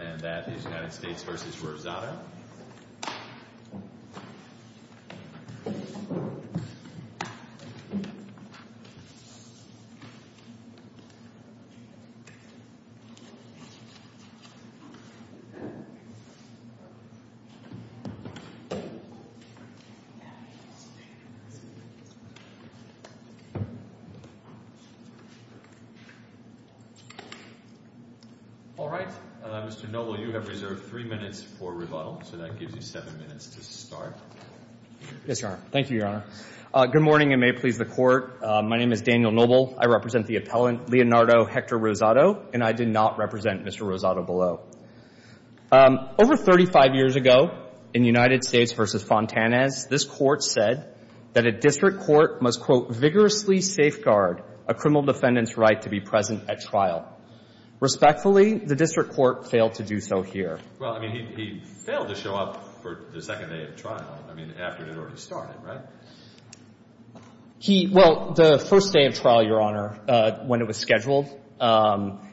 and that is United States v. Rosado. All right, Mr. Noble, you have reserved three minutes for rebuttal. So that gives you seven minutes to start. Yes, Your Honor. Thank you, Your Honor. Good morning, and may it please the Court. My name is Daniel Noble. I represent the appellant, Leonardo Hector Rosado, and I did not represent Mr. Rosado below. Over 35 years ago, in United States v. Fontanez, this Court said that a district court must, quote, vigorously safeguard a criminal defendant's right to be present at trial. Respectfully, the district court failed to do so here. Well, I mean, he failed to show up for the second day of trial, I mean, after it had already started, right? He, well, the first day of trial, Your Honor, when it was scheduled,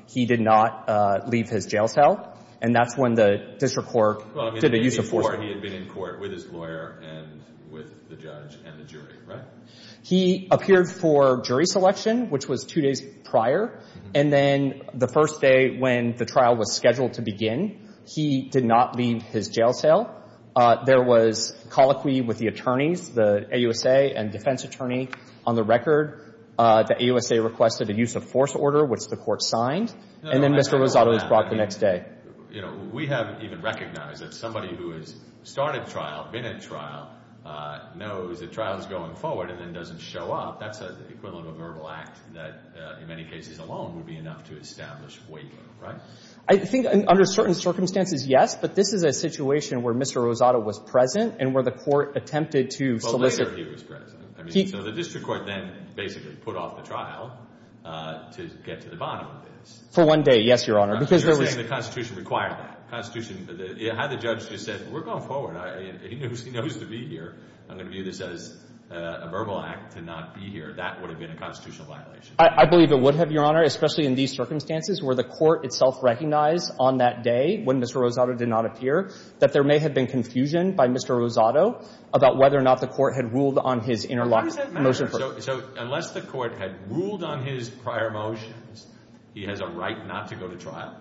he did not leave his jail cell, and that's when the district court did a use of force. Well, I mean, before he had been in court with his lawyer and with the judge and the jury, right? He appeared for jury selection, which was two days prior, and then the first day when the trial was scheduled to begin, he did not leave his jail cell. There was colloquy with the attorneys, the AUSA and defense attorney. On the record, the AUSA requested a use of force order, which the Court signed, and then Mr. Rosado was brought the next day. You know, we haven't even recognized that somebody who has started trial, been at trial, knows that trial is going forward and then doesn't show up. That's the equivalent of a verbal act that, in many cases alone, would be enough to I think under certain circumstances, yes, but this is a situation where Mr. Rosado was present and where the Court attempted to solicit. Well, later he was present. I mean, so the district court then basically put off the trial to get to the bottom of this. For one day, yes, Your Honor, because there was. You're saying the Constitution required that. The Constitution, had the judge just said, we're going forward. He knows to be here. I'm going to view this as a verbal act to not be here. That would have been a constitutional violation. I believe it would have, Your Honor, especially in these circumstances where the Court itself recognized on that day when Mr. Rosado did not appear, that there may have been confusion by Mr. Rosado about whether or not the Court had ruled on his interlocking motion. Why does that matter? So unless the Court had ruled on his prior motions, he has a right not to go to trial?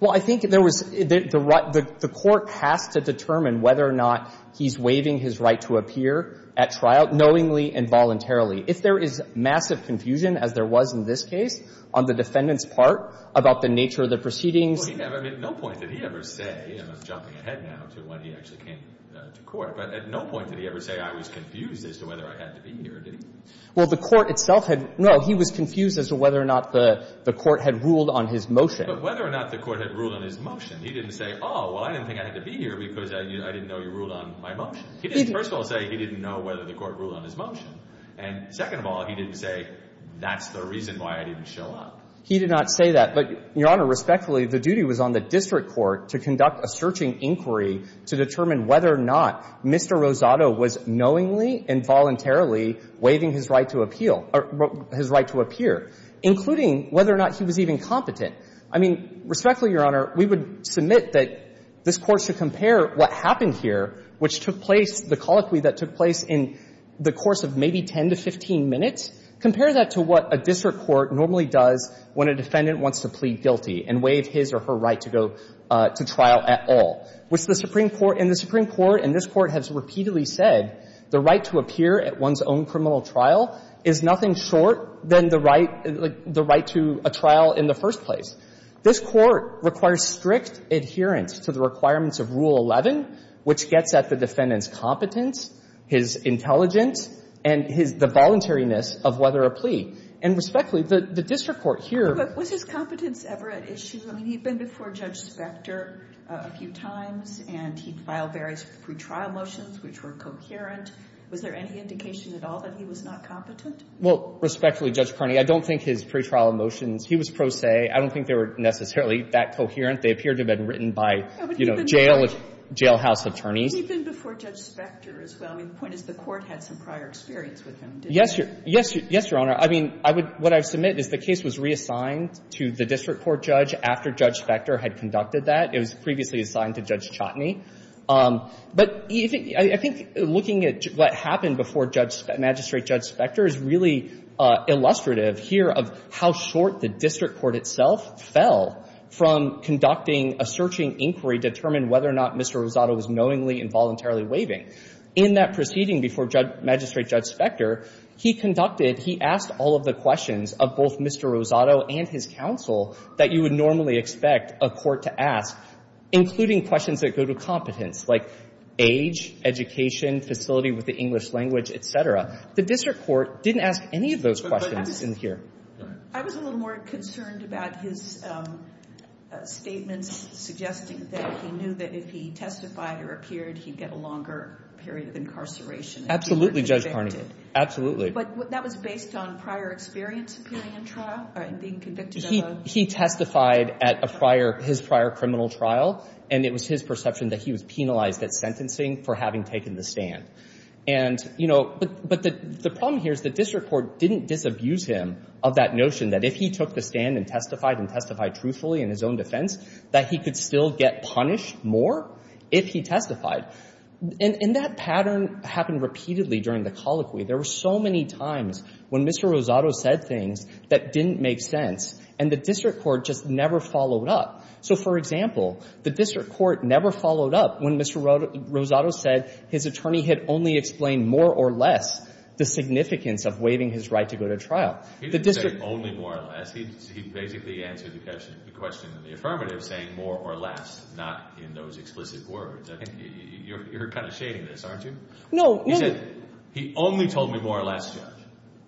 Well, I think there was. The Court has to determine whether or not he's waiving his right to appear at trial knowingly and voluntarily. If there is massive confusion, as there was in this case, on the defendant's part about the nature of the proceedings. Well, he never, at no point did he ever say, and I'm jumping ahead now to when he actually came to court, but at no point did he ever say, I was confused as to whether I had to be here, did he? Well, the Court itself had, no, he was confused as to whether or not the Court had ruled on his motion. But whether or not the Court had ruled on his motion, he didn't say, oh, well, I didn't think I had to be here because I didn't know you ruled on my motion. He didn't. First of all, say he didn't know whether the Court ruled on his motion. And second of all, he didn't say, that's the reason why I didn't show up. He did not say that. But, Your Honor, respectfully, the duty was on the district court to conduct a searching inquiry to determine whether or not Mr. Rosado was knowingly and voluntarily waiving his right to appeal or his right to appear, including whether or not he was even competent. I mean, respectfully, Your Honor, we would submit that this Court should compare what happened here, which took place, the colloquy that took place in the course of maybe 10 to 15 minutes, compare that to what a district court normally does when a defendant wants to plead guilty and waive his or her right to go to trial at all, which the Supreme Court and the Supreme Court and this Court has repeatedly said the right to appear at one's own criminal trial is nothing short than the right to a trial in the first place. This Court requires strict adherence to the requirements of Rule 11, which gets at the defendant's competence, his intelligence, and his — the voluntariness of whether a plea. And respectfully, the district court here — But was his competence ever at issue? I mean, he'd been before Judge Specter a few times, and he'd filed various pretrial motions which were coherent. Was there any indication at all that he was not competent? Well, respectfully, Judge Kearney, I don't think his pretrial motions — he was pro pressure, I would say. I don't think they were necessarily that coherent. They appeared to have been written by, you know, jail — jailhouse attorneys. But he'd been before Judge Specter as well. I mean, the point is the Court had some prior experience with him, didn't it? Yes, Your Honor. I mean, I would — what I would submit is the case was reassigned to the district court judge after Judge Specter had conducted that. It was previously assigned to Judge Chotney. But I think looking at what happened before Judge — Magistrate Judge Specter is really illustrative here of how short the district court itself fell from conducting a searching inquiry to determine whether or not Mr. Rosado was knowingly and voluntarily waiving. In that proceeding before Judge — Magistrate Judge Specter, he conducted — he asked all of the questions of both Mr. Rosado and his counsel that you would normally expect a court to ask, including questions that go to competence, like age, education, facility with the English language, et cetera. The district court didn't ask any of those questions in here. But I was — I was a little more concerned about his statements suggesting that he knew that if he testified or appeared, he'd get a longer period of incarceration. Absolutely, Judge Carnegie. Absolutely. But that was based on prior experience appearing in trial and being convicted of a — He testified at a prior — his prior criminal trial, and it was his perception that he was penalized at sentencing for having taken the stand. And, you know, but — but the — the problem here is the district court didn't disabuse him of that notion that if he took the stand and testified and testified truthfully in his own defense, that he could still get punished more if he testified. And — and that pattern happened repeatedly during the colloquy. There were so many times when Mr. Rosado said things that didn't make sense, and the district court just never followed up. So, for example, the district court never followed up when Mr. Rosado said his attorney had only explained more or less the significance of waiving his right to go to trial. He didn't say only more or less. He basically answered the question in the affirmative saying more or less, not in those explicit words. You're kind of shading this, aren't you? No. He said, he only told me more or less, Judge.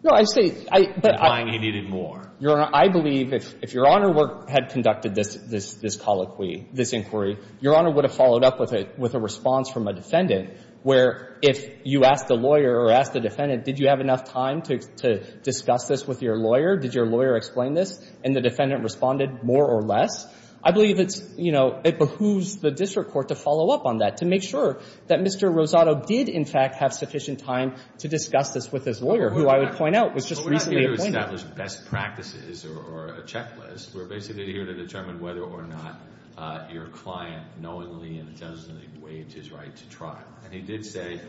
No, I say — He needed more. Your Honor, I believe if Your Honor had conducted this — this colloquy, this inquiry, Your Honor would have followed up with a — with a response from a defendant where if you asked a lawyer or asked a defendant, did you have enough time to discuss this with your lawyer, did your lawyer explain this, and the defendant responded more or less, I believe it's — you know, it behooves the district court to follow up on that, to make sure that Mr. Rosado did, in fact, have sufficient time to discuss this with his lawyer, who I would point out was just recently appointed. We haven't established best practices or a checklist. We're basically here to determine whether or not your client knowingly and intentionally waived his right to trial. And he did say,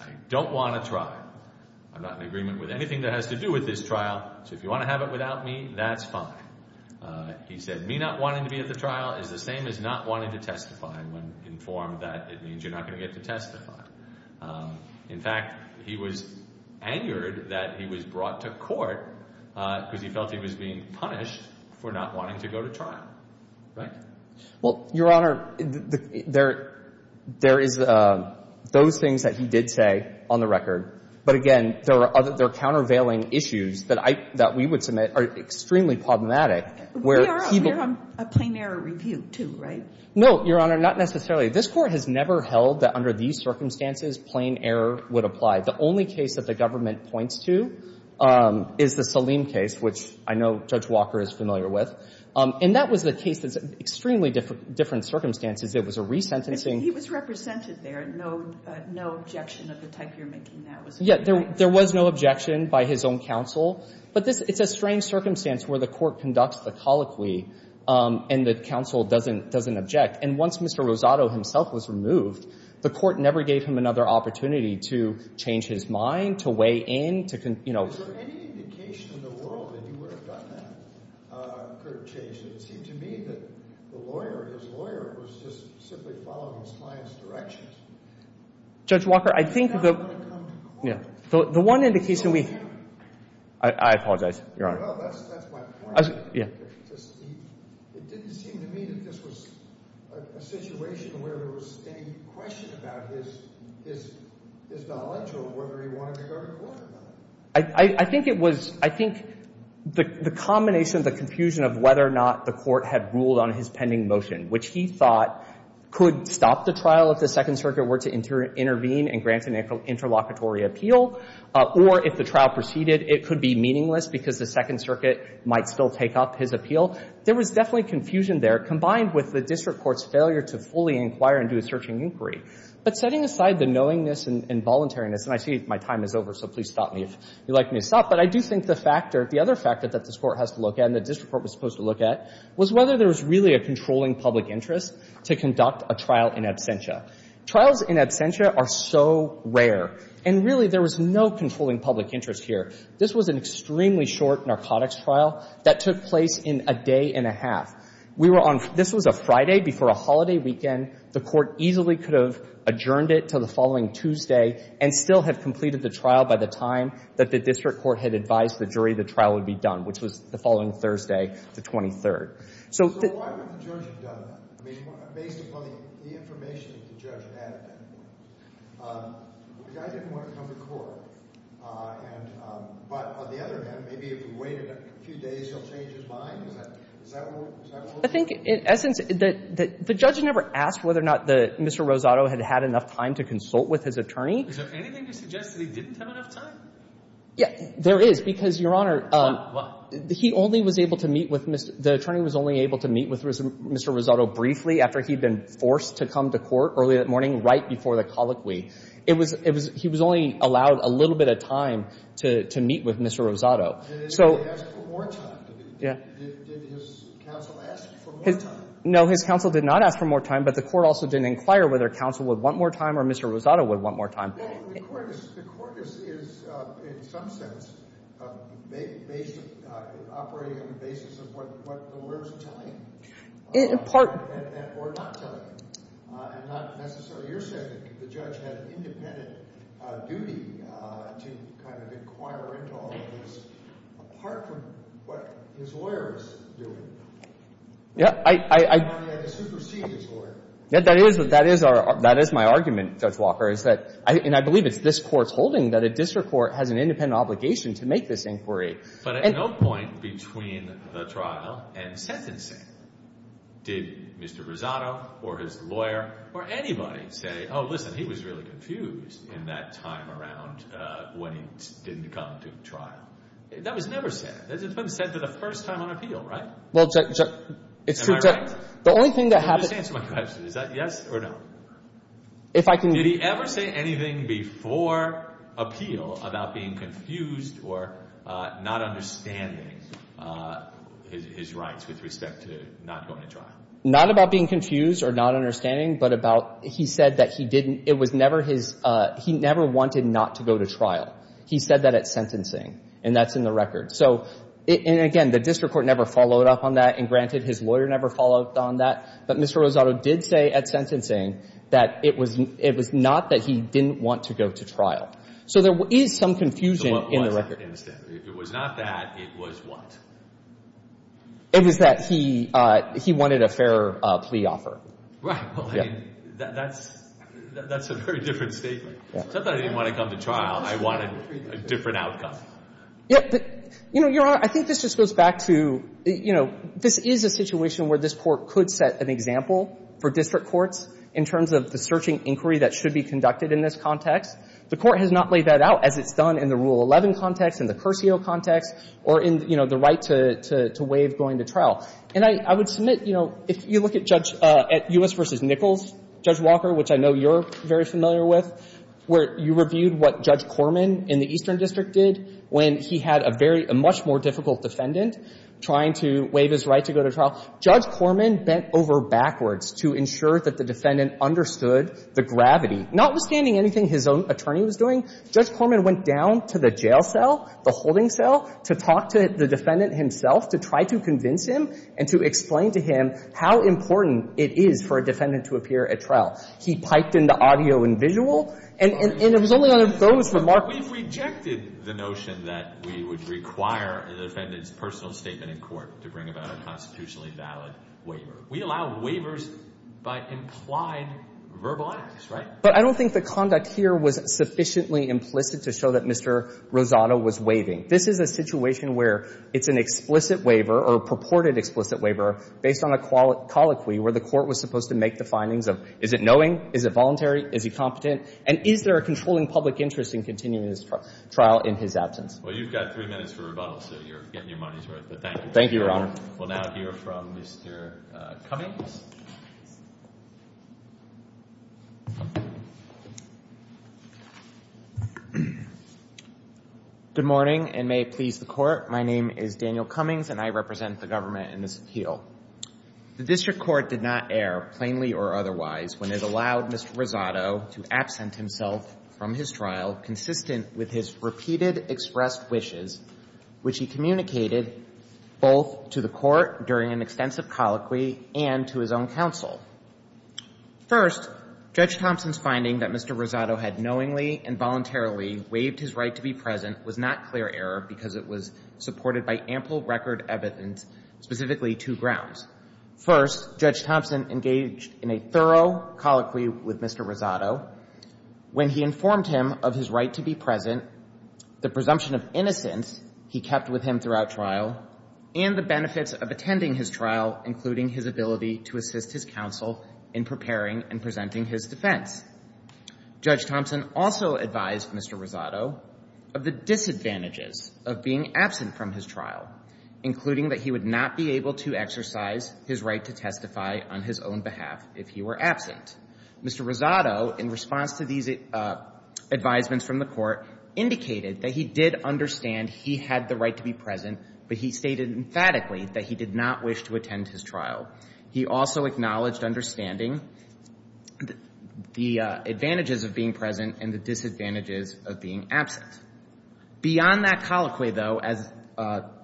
I don't want a trial. I'm not in agreement with anything that has to do with this trial. So if you want to have it without me, that's fine. He said, me not wanting to be at the trial is the same as not wanting to testify. When informed that, it means you're not going to get to testify. In fact, he was angered that he was brought to court because he felt he was being punished for not wanting to go to trial. Right? Well, Your Honor, there is those things that he did say on the record. But, again, there are countervailing issues that I — that we would submit are extremely problematic, where he — We are on a plain-error review, too, right? No, Your Honor, not necessarily. This Court has never held that under these circumstances, plain error would apply. The only case that the government points to is the Salim case, which I know Judge Walker is familiar with. And that was the case that's extremely different circumstances. It was a resentencing. He was represented there. No — no objection of the type you're making. Yeah, there was no objection by his own counsel. But this — it's a strange circumstance where the court conducts the colloquy and the counsel doesn't object. And once Mr. Rosado himself was removed, the court never gave him another opportunity to change his mind, to weigh in, to — Is there any indication in the world that he would have done that, could have changed it? It seemed to me that the lawyer, his lawyer, was just simply following his client's directions. Judge Walker, I think the — He's not going to come to court. The one indication we — I apologize, Your Honor. Well, that's my point. Yeah. It didn't seem to me that this was a situation where there was any question about his knowledge or whether he wanted to go to court about it. I think it was — I think the combination, the confusion of whether or not the court had ruled on his pending motion, which he thought could stop the trial if the Second Circuit were to intervene and grant an interlocutory appeal, or if the trial proceeded, it could be meaningless because the Second Circuit might still take up his appeal. There was definitely confusion there, combined with the district court's failure to fully inquire and do a searching inquiry. But setting aside the knowingness and voluntariness — And I see my time is over, so please stop me if you'd like me to stop. But I do think the factor — the other factor that this court has to look at and the district court was supposed to look at was whether there was really a controlling public interest to conduct a trial in absentia. Trials in absentia are so rare. And really, there was no controlling public interest here. This was an extremely short narcotics trial that took place in a day and a half. We were on — this was a Friday before a holiday weekend. The court easily could have adjourned it until the following Tuesday and still have completed the trial by the time that the district court had advised the jury the trial would be done, which was the following Thursday, the 23rd. So — So why wouldn't the judge have done that? I mean, based upon the information that the judge had at that point. I didn't want him to come to court. And — but on the other hand, maybe if he waited a few days, he'll change his mind. Is that — is that what — I think, in essence, the judge never asked whether or not Mr. Rosado had had enough time to consult with his attorney. Is there anything to suggest that he didn't have enough time? Yeah, there is, because, Your Honor — Why? Why? He only was able to meet with — the attorney was only able to meet with Mr. Rosado briefly after he'd been forced to come to court early that morning, right before the colloquy. It was — it was — he was only allowed a little bit of time to meet with Mr. Rosado. So — Did he ask for more time? Yeah. Did his counsel ask for more time? No, his counsel did not ask for more time, but the court also didn't inquire whether counsel would want more time or Mr. Rosado would want more time. The court is — the court is, in some sense, based — operating on the basis of what the lawyer's telling — In part — Or not telling. And not necessarily — you're saying that the judge had an independent duty to kind of inquire into all of this, apart from what his lawyer was doing. Yeah, I — I guess he superseded his lawyer. Yeah, that is — that is our — that is my argument, Judge Walker, is that — and I believe it's this Court's holding that a district court has an independent obligation to make this inquiry. But at no point between the trial and sentencing did Mr. Rosado or his lawyer or anybody say, oh, listen, he was really confused in that time around when he didn't come to trial. That was never said. It's been said for the first time on appeal, right? Well, Judge — Am I right? The only thing that happened — Just answer my question. Is that yes or no? If I can — Did he ever say anything before appeal about being confused or not understanding his rights with respect to not going to trial? Not about being confused or not understanding, but about — he said that he didn't — it was never his — he never wanted not to go to trial. He said that at sentencing. And that's in the record. So — and again, the district court never followed up on that. And granted, his lawyer never followed up on that. But Mr. Rosado did say at sentencing that it was not that he didn't want to go to trial. So there is some confusion in the record. So what was that? It was not that. It was what? It was that he wanted a fair plea offer. Right. Well, I mean, that's a very different statement. It's not that I didn't want to come to trial. I wanted a different outcome. Yeah. You know, Your Honor, I think this just goes back to — you know, this is a situation where this Court could set an example for district courts in terms of the searching inquiry that should be conducted in this context. The Court has not laid that out, as it's done in the Rule 11 context, in the Curcio context, or in, you know, the right to waive going to trial. And I would submit, you know, if you look at Judge — at U.S. v. Nichols, Judge Walker, which I know you're very familiar with, where you reviewed what Judge Corman in the Eastern District did when he had a very — a much more difficult defendant trying to waive his right to go to trial, Judge Corman bent over backwards to ensure that the defendant understood the gravity. Notwithstanding anything his own attorney was doing, Judge Corman went down to the jail cell, the holding cell, to talk to the defendant himself, to try to convince him and to explain to him how important it is for a defendant to appear at trial. He piped into audio and visual. And it was only on those remarks — We rejected the notion that we would require the defendant's personal statement in court to bring about a constitutionally valid waiver. We allow waivers by implied verbal acts, right? But I don't think the conduct here was sufficiently implicit to show that Mr. Rosado was waiving. This is a situation where it's an explicit waiver or a purported explicit waiver based on a colloquy where the Court was supposed to make the findings of, is it knowing, is it voluntary, is he competent, and is there a controlling public interest in continuing this trial in his absence? Well, you've got three minutes for rebuttal, so you're getting your money's worth, but thank you. Thank you, Your Honor. We'll now hear from Mr. Cummings. Good morning, and may it please the Court. My name is Daniel Cummings, and I represent the government in this appeal. The District Court did not err, plainly or otherwise, when it allowed Mr. Rosado to absent himself from his trial consistent with his repeated expressed wishes, which he communicated both to the Court during an extensive colloquy and to his own counsel. First, Judge Thompson's finding that Mr. Rosado had knowingly and voluntarily waived his right to be present was not clear error because it was supported by ample record evidence, specifically two grounds. First, Judge Thompson engaged in a thorough colloquy with Mr. Rosado when he informed him of his right to be present, the presumption of innocence he kept with him throughout trial, and the benefits of attending his trial, including his ability to assist his counsel in preparing and presenting his defense. Judge Thompson also advised Mr. Rosado of the disadvantages of being absent from his trial, including that he would not be able to exercise his right to testify on his own behalf if he were absent. Mr. Rosado, in response to these advisements from the Court, indicated that he did understand he had the right to be present, but he stated emphatically that he did not wish to attend his trial. He also acknowledged understanding the advantages of being present and the disadvantages of being absent. Beyond that colloquy, though, as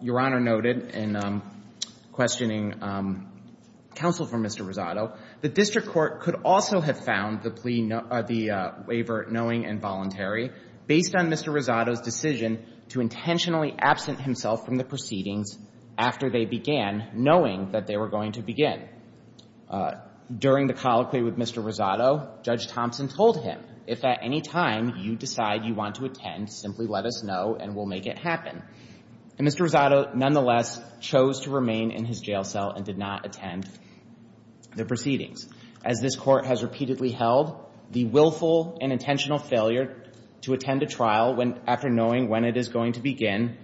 Your Honor noted in questioning counsel for Mr. Rosado, the district court could also have found the plea no — the waiver knowing and voluntary based on Mr. Rosado's decision to intentionally absent himself from the proceedings after they began, knowing that they were going to begin. During the colloquy with Mr. Rosado, Judge Thompson told him, if at any time you decide you want to attend, simply let us know and we'll make it happen. And Mr. Rosado, nonetheless, chose to remain in his jail cell and did not attend the proceedings. As this Court has repeatedly held, the willful and intentional failure to attend a trial after knowing when it is going to begin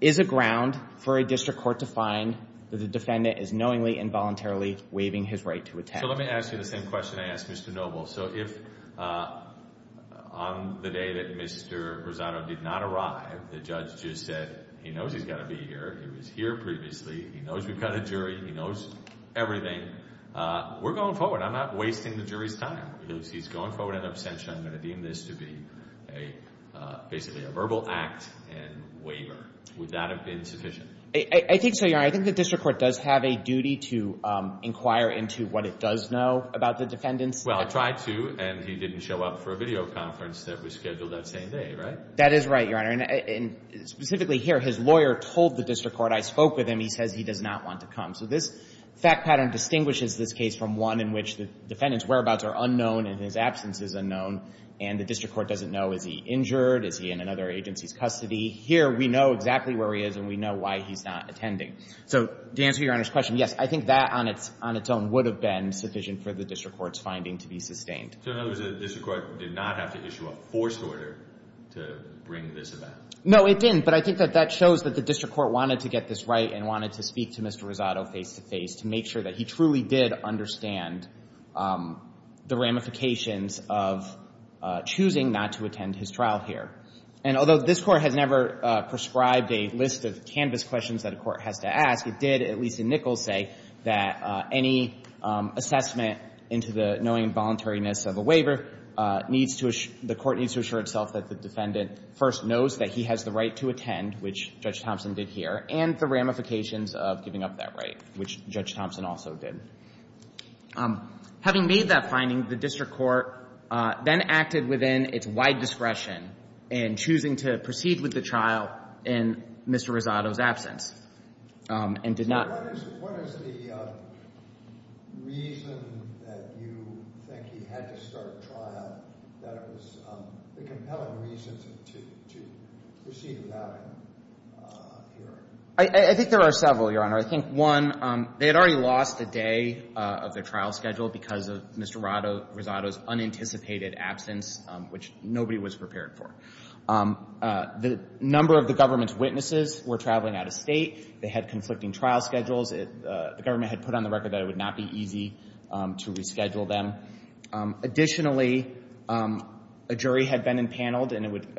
is a ground for a district court to find that the defendant is knowingly and voluntarily waiving his right to attend. So let me ask you the same question I asked Mr. Noble. So if on the day that Mr. Rosado did not arrive, the judge just said he knows he's got to be here, he was here previously, he knows we've got a jury, he knows everything, we're going forward. I'm not wasting the jury's time. He's going forward in abstention. I'm going to deem this to be basically a verbal act and waiver. Would that have been sufficient? I think so, Your Honor. I think the district court does have a duty to inquire into what it does know about the defendants. Well, it tried to and he didn't show up for a video conference that was scheduled that same day, right? That is right, Your Honor. And specifically here, his lawyer told the district court, I spoke with him, he says he does not want to come. So this fact pattern distinguishes this case from one in which the defendant's whereabouts are unknown and his absence is unknown and the district court doesn't know is he injured, is he in another agency's custody. Here we know exactly where he is and we know why he's not attending. So to answer Your Honor's question, yes, I think that on its own would have been sufficient for the district court's finding to be sustained. So in other words, the district court did not have to issue a forced order to bring this about? No, it didn't. But I think that that shows that the district court wanted to get this right and wanted to speak to Mr. Rosado face-to-face to make sure that he truly did understand the ramifications of choosing not to attend his trial here. And although this court has never prescribed a list of canvas questions that a court has to ask, it did, at least in Nichols, say that any assessment into the knowing and voluntariness of a waiver needs to assure the court needs to assure itself that the defendant first knows that he has the right to attend, which Judge Thompson did here, and the ramifications of giving up that right, which Judge Thompson also did. Having made that finding, the district court then acted within its wide discretion in choosing to proceed with the trial in Mr. Rosado's absence and did not. So what is the reason that you think he had to start trial that was the compelling reason to proceed without him here? I think there are several, Your Honor. I think, one, they had already lost the day of the trial schedule because of Mr. Rosado's unanticipated absence, which nobody was prepared for. The number of the government's witnesses were traveling out of state. They had conflicting trial schedules. The government had put on the record that it would not be easy to reschedule them. Additionally, a jury had been empaneled, and it would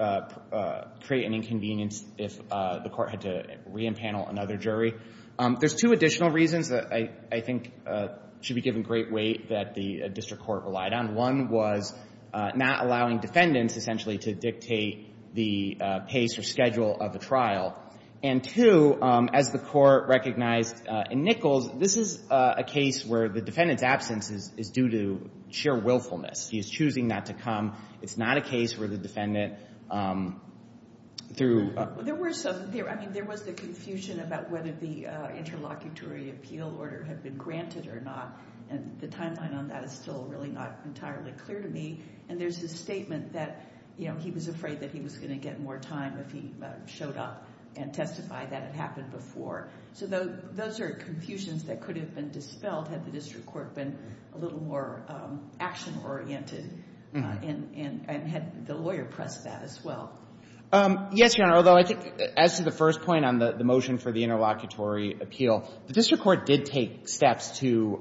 create an inconvenience if the court had to re-empanel another jury. There's two additional reasons that I think should be given great weight that the district court relied on. One was not allowing defendants, essentially, to dictate the pace or schedule of the trial. And two, as the court recognized in Nichols, this is a case where the defendant's absence is due to sheer willfulness. He is choosing not to come. It's not a case where the defendant, through— There was the confusion about whether the interlocutory appeal order had been granted or not, and the timeline on that is still really not entirely clear to me. And there's a statement that he was afraid that he was going to get more time if he showed up and testified that it happened before. So those are confusions that could have been dispelled had the district court been a little more action-oriented and had the lawyer pressed that as well. Yes, Your Honor. Although, I think, as to the first point on the motion for the interlocutory appeal, the district court did take steps to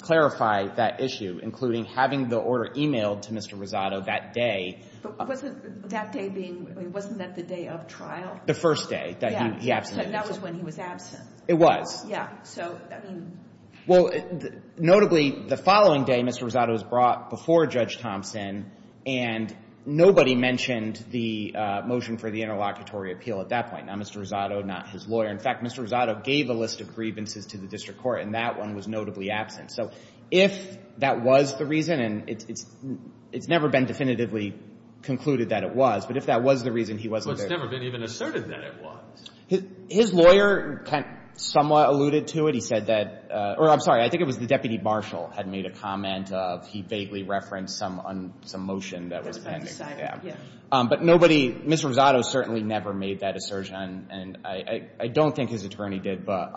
clarify that issue, including having the order emailed to Mr. Rosado that day. But wasn't that day being — wasn't that the day of trial? The first day that he abstained. So that was when he was absent. It was. Yeah. So, I mean — Well, notably, the following day, Mr. Rosado was brought before Judge Thompson, and nobody mentioned the motion for the interlocutory appeal at that point. Not Mr. Rosado, not his lawyer. In fact, Mr. Rosado gave a list of grievances to the district court, and that one was notably absent. So if that was the reason, and it's never been definitively concluded that it was, but if that was the reason, he wasn't there. Well, it's never been even asserted that it was. His lawyer somewhat alluded to it. He said that — or, I'm sorry, I think it was the deputy marshal had made a comment of he vaguely referenced some motion that was pending. But nobody — Mr. Rosado certainly never made that assertion, and I don't think his attorney did. But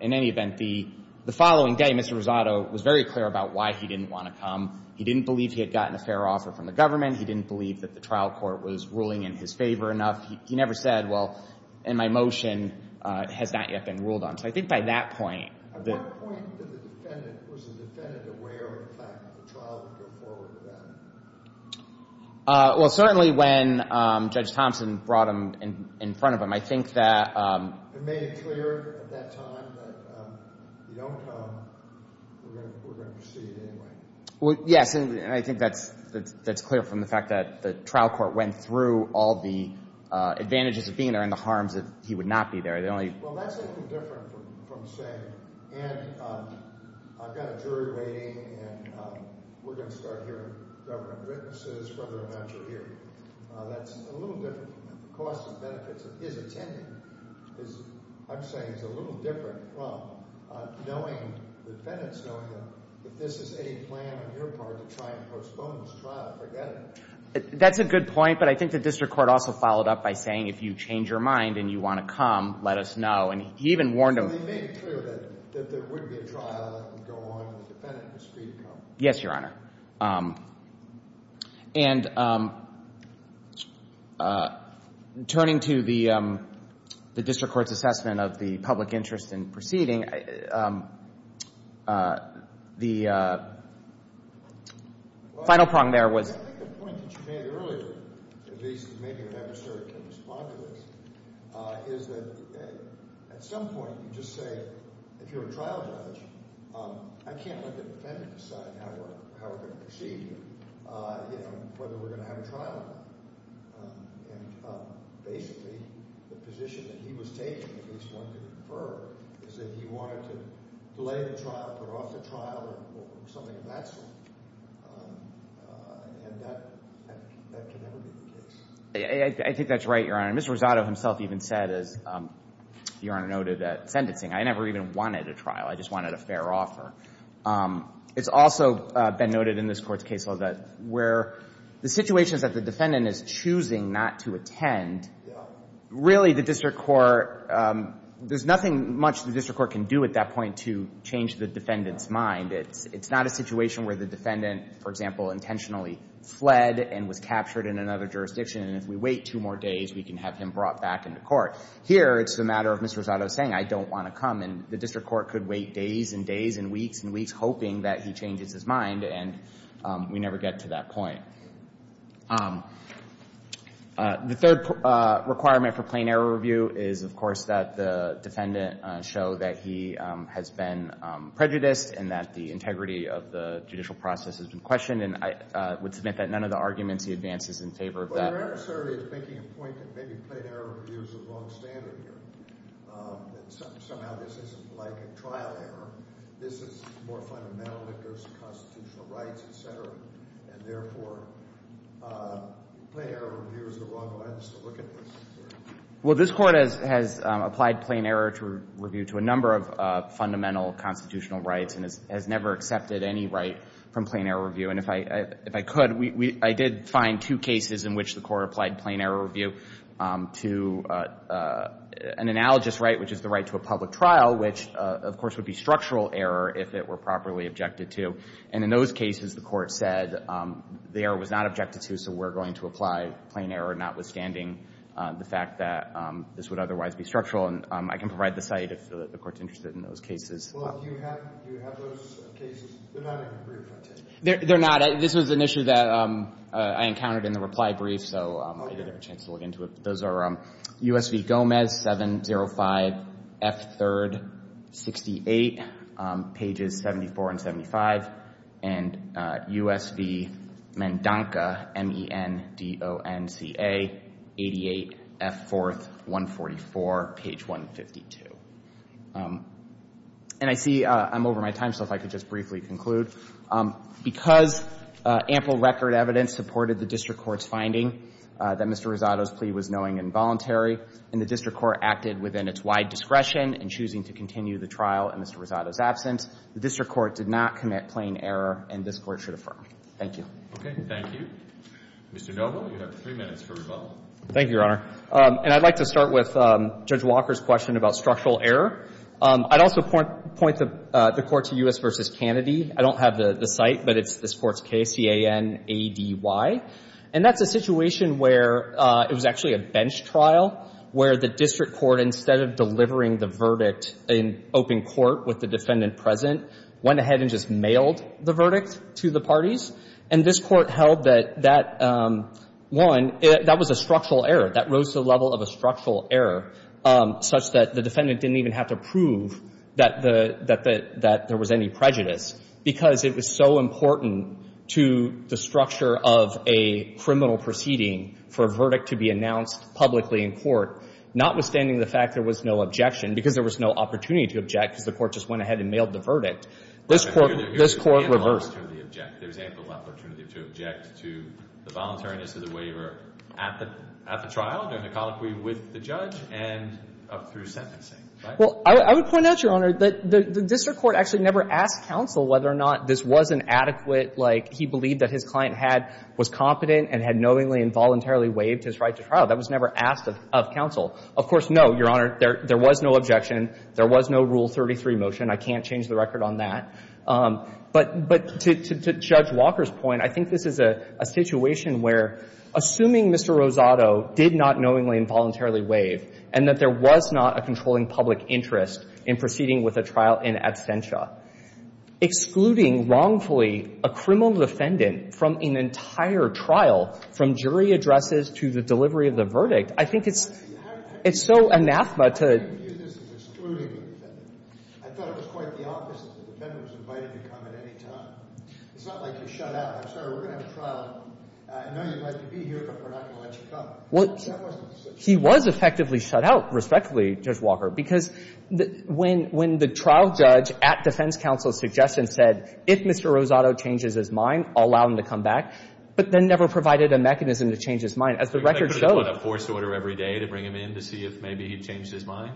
in any event, the following day, Mr. Rosado was very clear about why he didn't want to come. He didn't believe he had gotten a fair offer from the government. He didn't believe that the trial court was ruling in his favor enough. He never said, well, and my motion has not yet been ruled on. So I think by that point — Was the defendant aware of the fact that the trial would go forward with that? Well, certainly when Judge Thompson brought him in front of him, I think that — He made it clear at that time that if you don't come, we're going to proceed anyway. Yes, and I think that's clear from the fact that the trial court went through all the advantages of being there and the harms that he would not be there. Well, that's a little different from saying, and I've got a jury waiting, and we're going to start hearing government witnesses whether or not you're here. That's a little different. The costs and benefits of his attending is, I'm saying, is a little different from knowing — the defendant's knowing that if this is a plan on your part to try and postpone this trial, forget it. That's a good point, but I think the district court also followed up by saying, if you change your mind and you want to come, let us know. And he even warned him — So he made it clear that there wouldn't be a trial, let them go on, and the defendant was free to come. Yes, Your Honor. And turning to the district court's assessment of the public interest in proceeding, the final prong there was — Well, I think the point that you made earlier, at least in making an adversary can respond to this, is that at some point you just say, if you're a trial judge, I can't let the defendant decide how we're going to proceed here, whether we're going to have a trial or not. And basically the position that he was taking, at least one could infer, is that he wanted to delay the trial, put off the trial, or something of that sort. And that could never be the case. I think that's right, Your Honor. Mr. Rosado himself even said, as Your Honor noted, that sentencing — I never even wanted a trial, I just wanted a fair offer. It's also been noted in this Court's case law that where the situation is that the defendant is choosing not to attend, really the district court — there's nothing much the district court can do at that point to change the defendant's mind. It's not a situation where the defendant, for example, intentionally fled and was captured in another jurisdiction, and if we wait two more days, we can have him brought back into court. Here, it's a matter of Mr. Rosado saying, I don't want to come. And the district court could wait days and days and weeks and weeks, hoping that he changes his mind, and we never get to that point. All right. The third requirement for plain error review is, of course, that the defendant show that he has been prejudiced and that the integrity of the judicial process has been questioned, and I would submit that none of the arguments he advances in favor of that. But your adversary is making a point that maybe plain error review is the wrong standard here, that somehow this isn't like a trial error. This is more fundamental. There's constitutional rights, et cetera. And therefore, plain error review is the wrong one. I'm just going to look at this. Well, this Court has applied plain error review to a number of fundamental constitutional rights and has never accepted any right from plain error review. And if I could, I did find two cases in which the Court applied plain error review to an analogous right, which is the right to a public trial, which, of course, would be structural error if it were properly objected to. And in those cases, the Court said the error was not objected to, so we're going to apply plain error notwithstanding the fact that this would otherwise be structural. And I can provide the site if the Court's interested in those cases. Well, do you have those cases? They're not in the brief, I take it. They're not. This was an issue that I encountered in the reply brief, so I didn't have a chance to look into it. Those are U.S. v. Gomez, 705 F. 3rd, 68, pages 74 and 75, and U.S. v. Mendonca, M-E-N-D-O-N-C-A, 88, F. 4th, 144, page 152. And I see I'm over my time, so if I could just briefly conclude. Because ample record evidence supported the district court's finding that Mr. Rosado's plea was knowing and voluntary and the district court acted within its wide discretion in choosing to continue the trial in Mr. Rosado's absence, the district court did not commit plain error, and this Court should affirm. Thank you. Okay. Thank you. Mr. Noble, you have three minutes for rebuttal. Thank you, Your Honor. And I'd like to start with Judge Walker's question about structural error. I'd also point the Court to U.S. v. Kennedy. I don't have the site, but it's this Court's case, C-A-N-A-D-Y. And that's a situation where it was actually a bench trial where the district court, instead of delivering the verdict in open court with the defendant present, went ahead and just mailed the verdict to the parties. And this Court held that that won. That was a structural error. That rose to the level of a structural error such that the defendant didn't even have to prove that there was any prejudice because it was so important to the structure of a criminal proceeding for a verdict to be announced publicly in court, notwithstanding the fact there was no objection because there was no opportunity to object because the Court just went ahead and mailed the verdict. This Court reversed. There's ample opportunity to object to the voluntariness of the waiver at the trial, during the colloquy with the judge, and up through sentencing. Well, I would point out, Your Honor, that the district court actually never asked counsel whether or not this was an adequate, like he believed that his client was competent and had knowingly and voluntarily waived his right to trial. That was never asked of counsel. Of course, no, Your Honor. There was no objection. There was no Rule 33 motion. I can't change the record on that. But to Judge Walker's point, I think this is a situation where, assuming Mr. Rosado did not knowingly and voluntarily waive and that there was not a controlling public interest in proceeding with a trial in absentia, excluding wrongfully a criminal defendant from an entire trial, from jury addresses to the delivery of the verdict, I think it's so anathema to — I thought it was quite the opposite. The defendant was invited to come at any time. It's not like you shut out. I'm sorry. We're going to have a trial. I know you'd like to be here, but we're not going to let you come. That wasn't the situation. He was effectively shut out, respectfully, Judge Walker, because when the trial judge at defense counsel's suggestion said, if Mr. Rosado changes his mind, I'll allow him to come back, but then never provided a mechanism to change his mind. As the record shows — Could he put a force order every day to bring him in to see if maybe he changed his mind?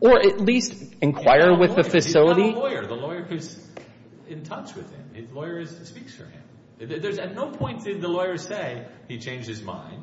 Or at least inquire with the facility? The lawyer is in touch with him. His lawyer speaks for him. At no point did the lawyer say he changed his mind,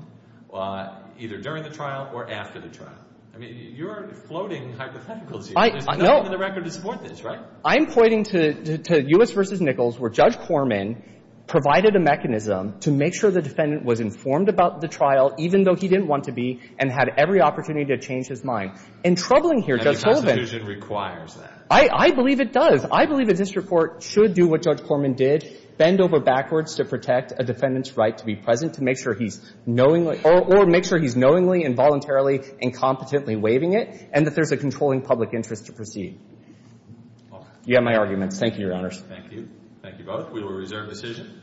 either during the trial or after the trial. I mean, you're floating hypotheticals here. There's nothing in the record to support this, right? I'm pointing to U.S. v. Nichols where Judge Corman provided a mechanism to make sure the defendant was informed about the trial, even though he didn't want to be and had every opportunity to change his mind. And troubling here, Judge Corman — Any constitution requires that. I believe it does. I believe that this report should do what Judge Corman did, bend over backwards to protect a defendant's right to be present to make sure he's knowingly — or make sure he's knowingly and voluntarily and competently waiving it and that there's a controlling public interest to proceed. You have my arguments. Thank you, Your Honors. Thank you. Thank you both. We will reserve decision.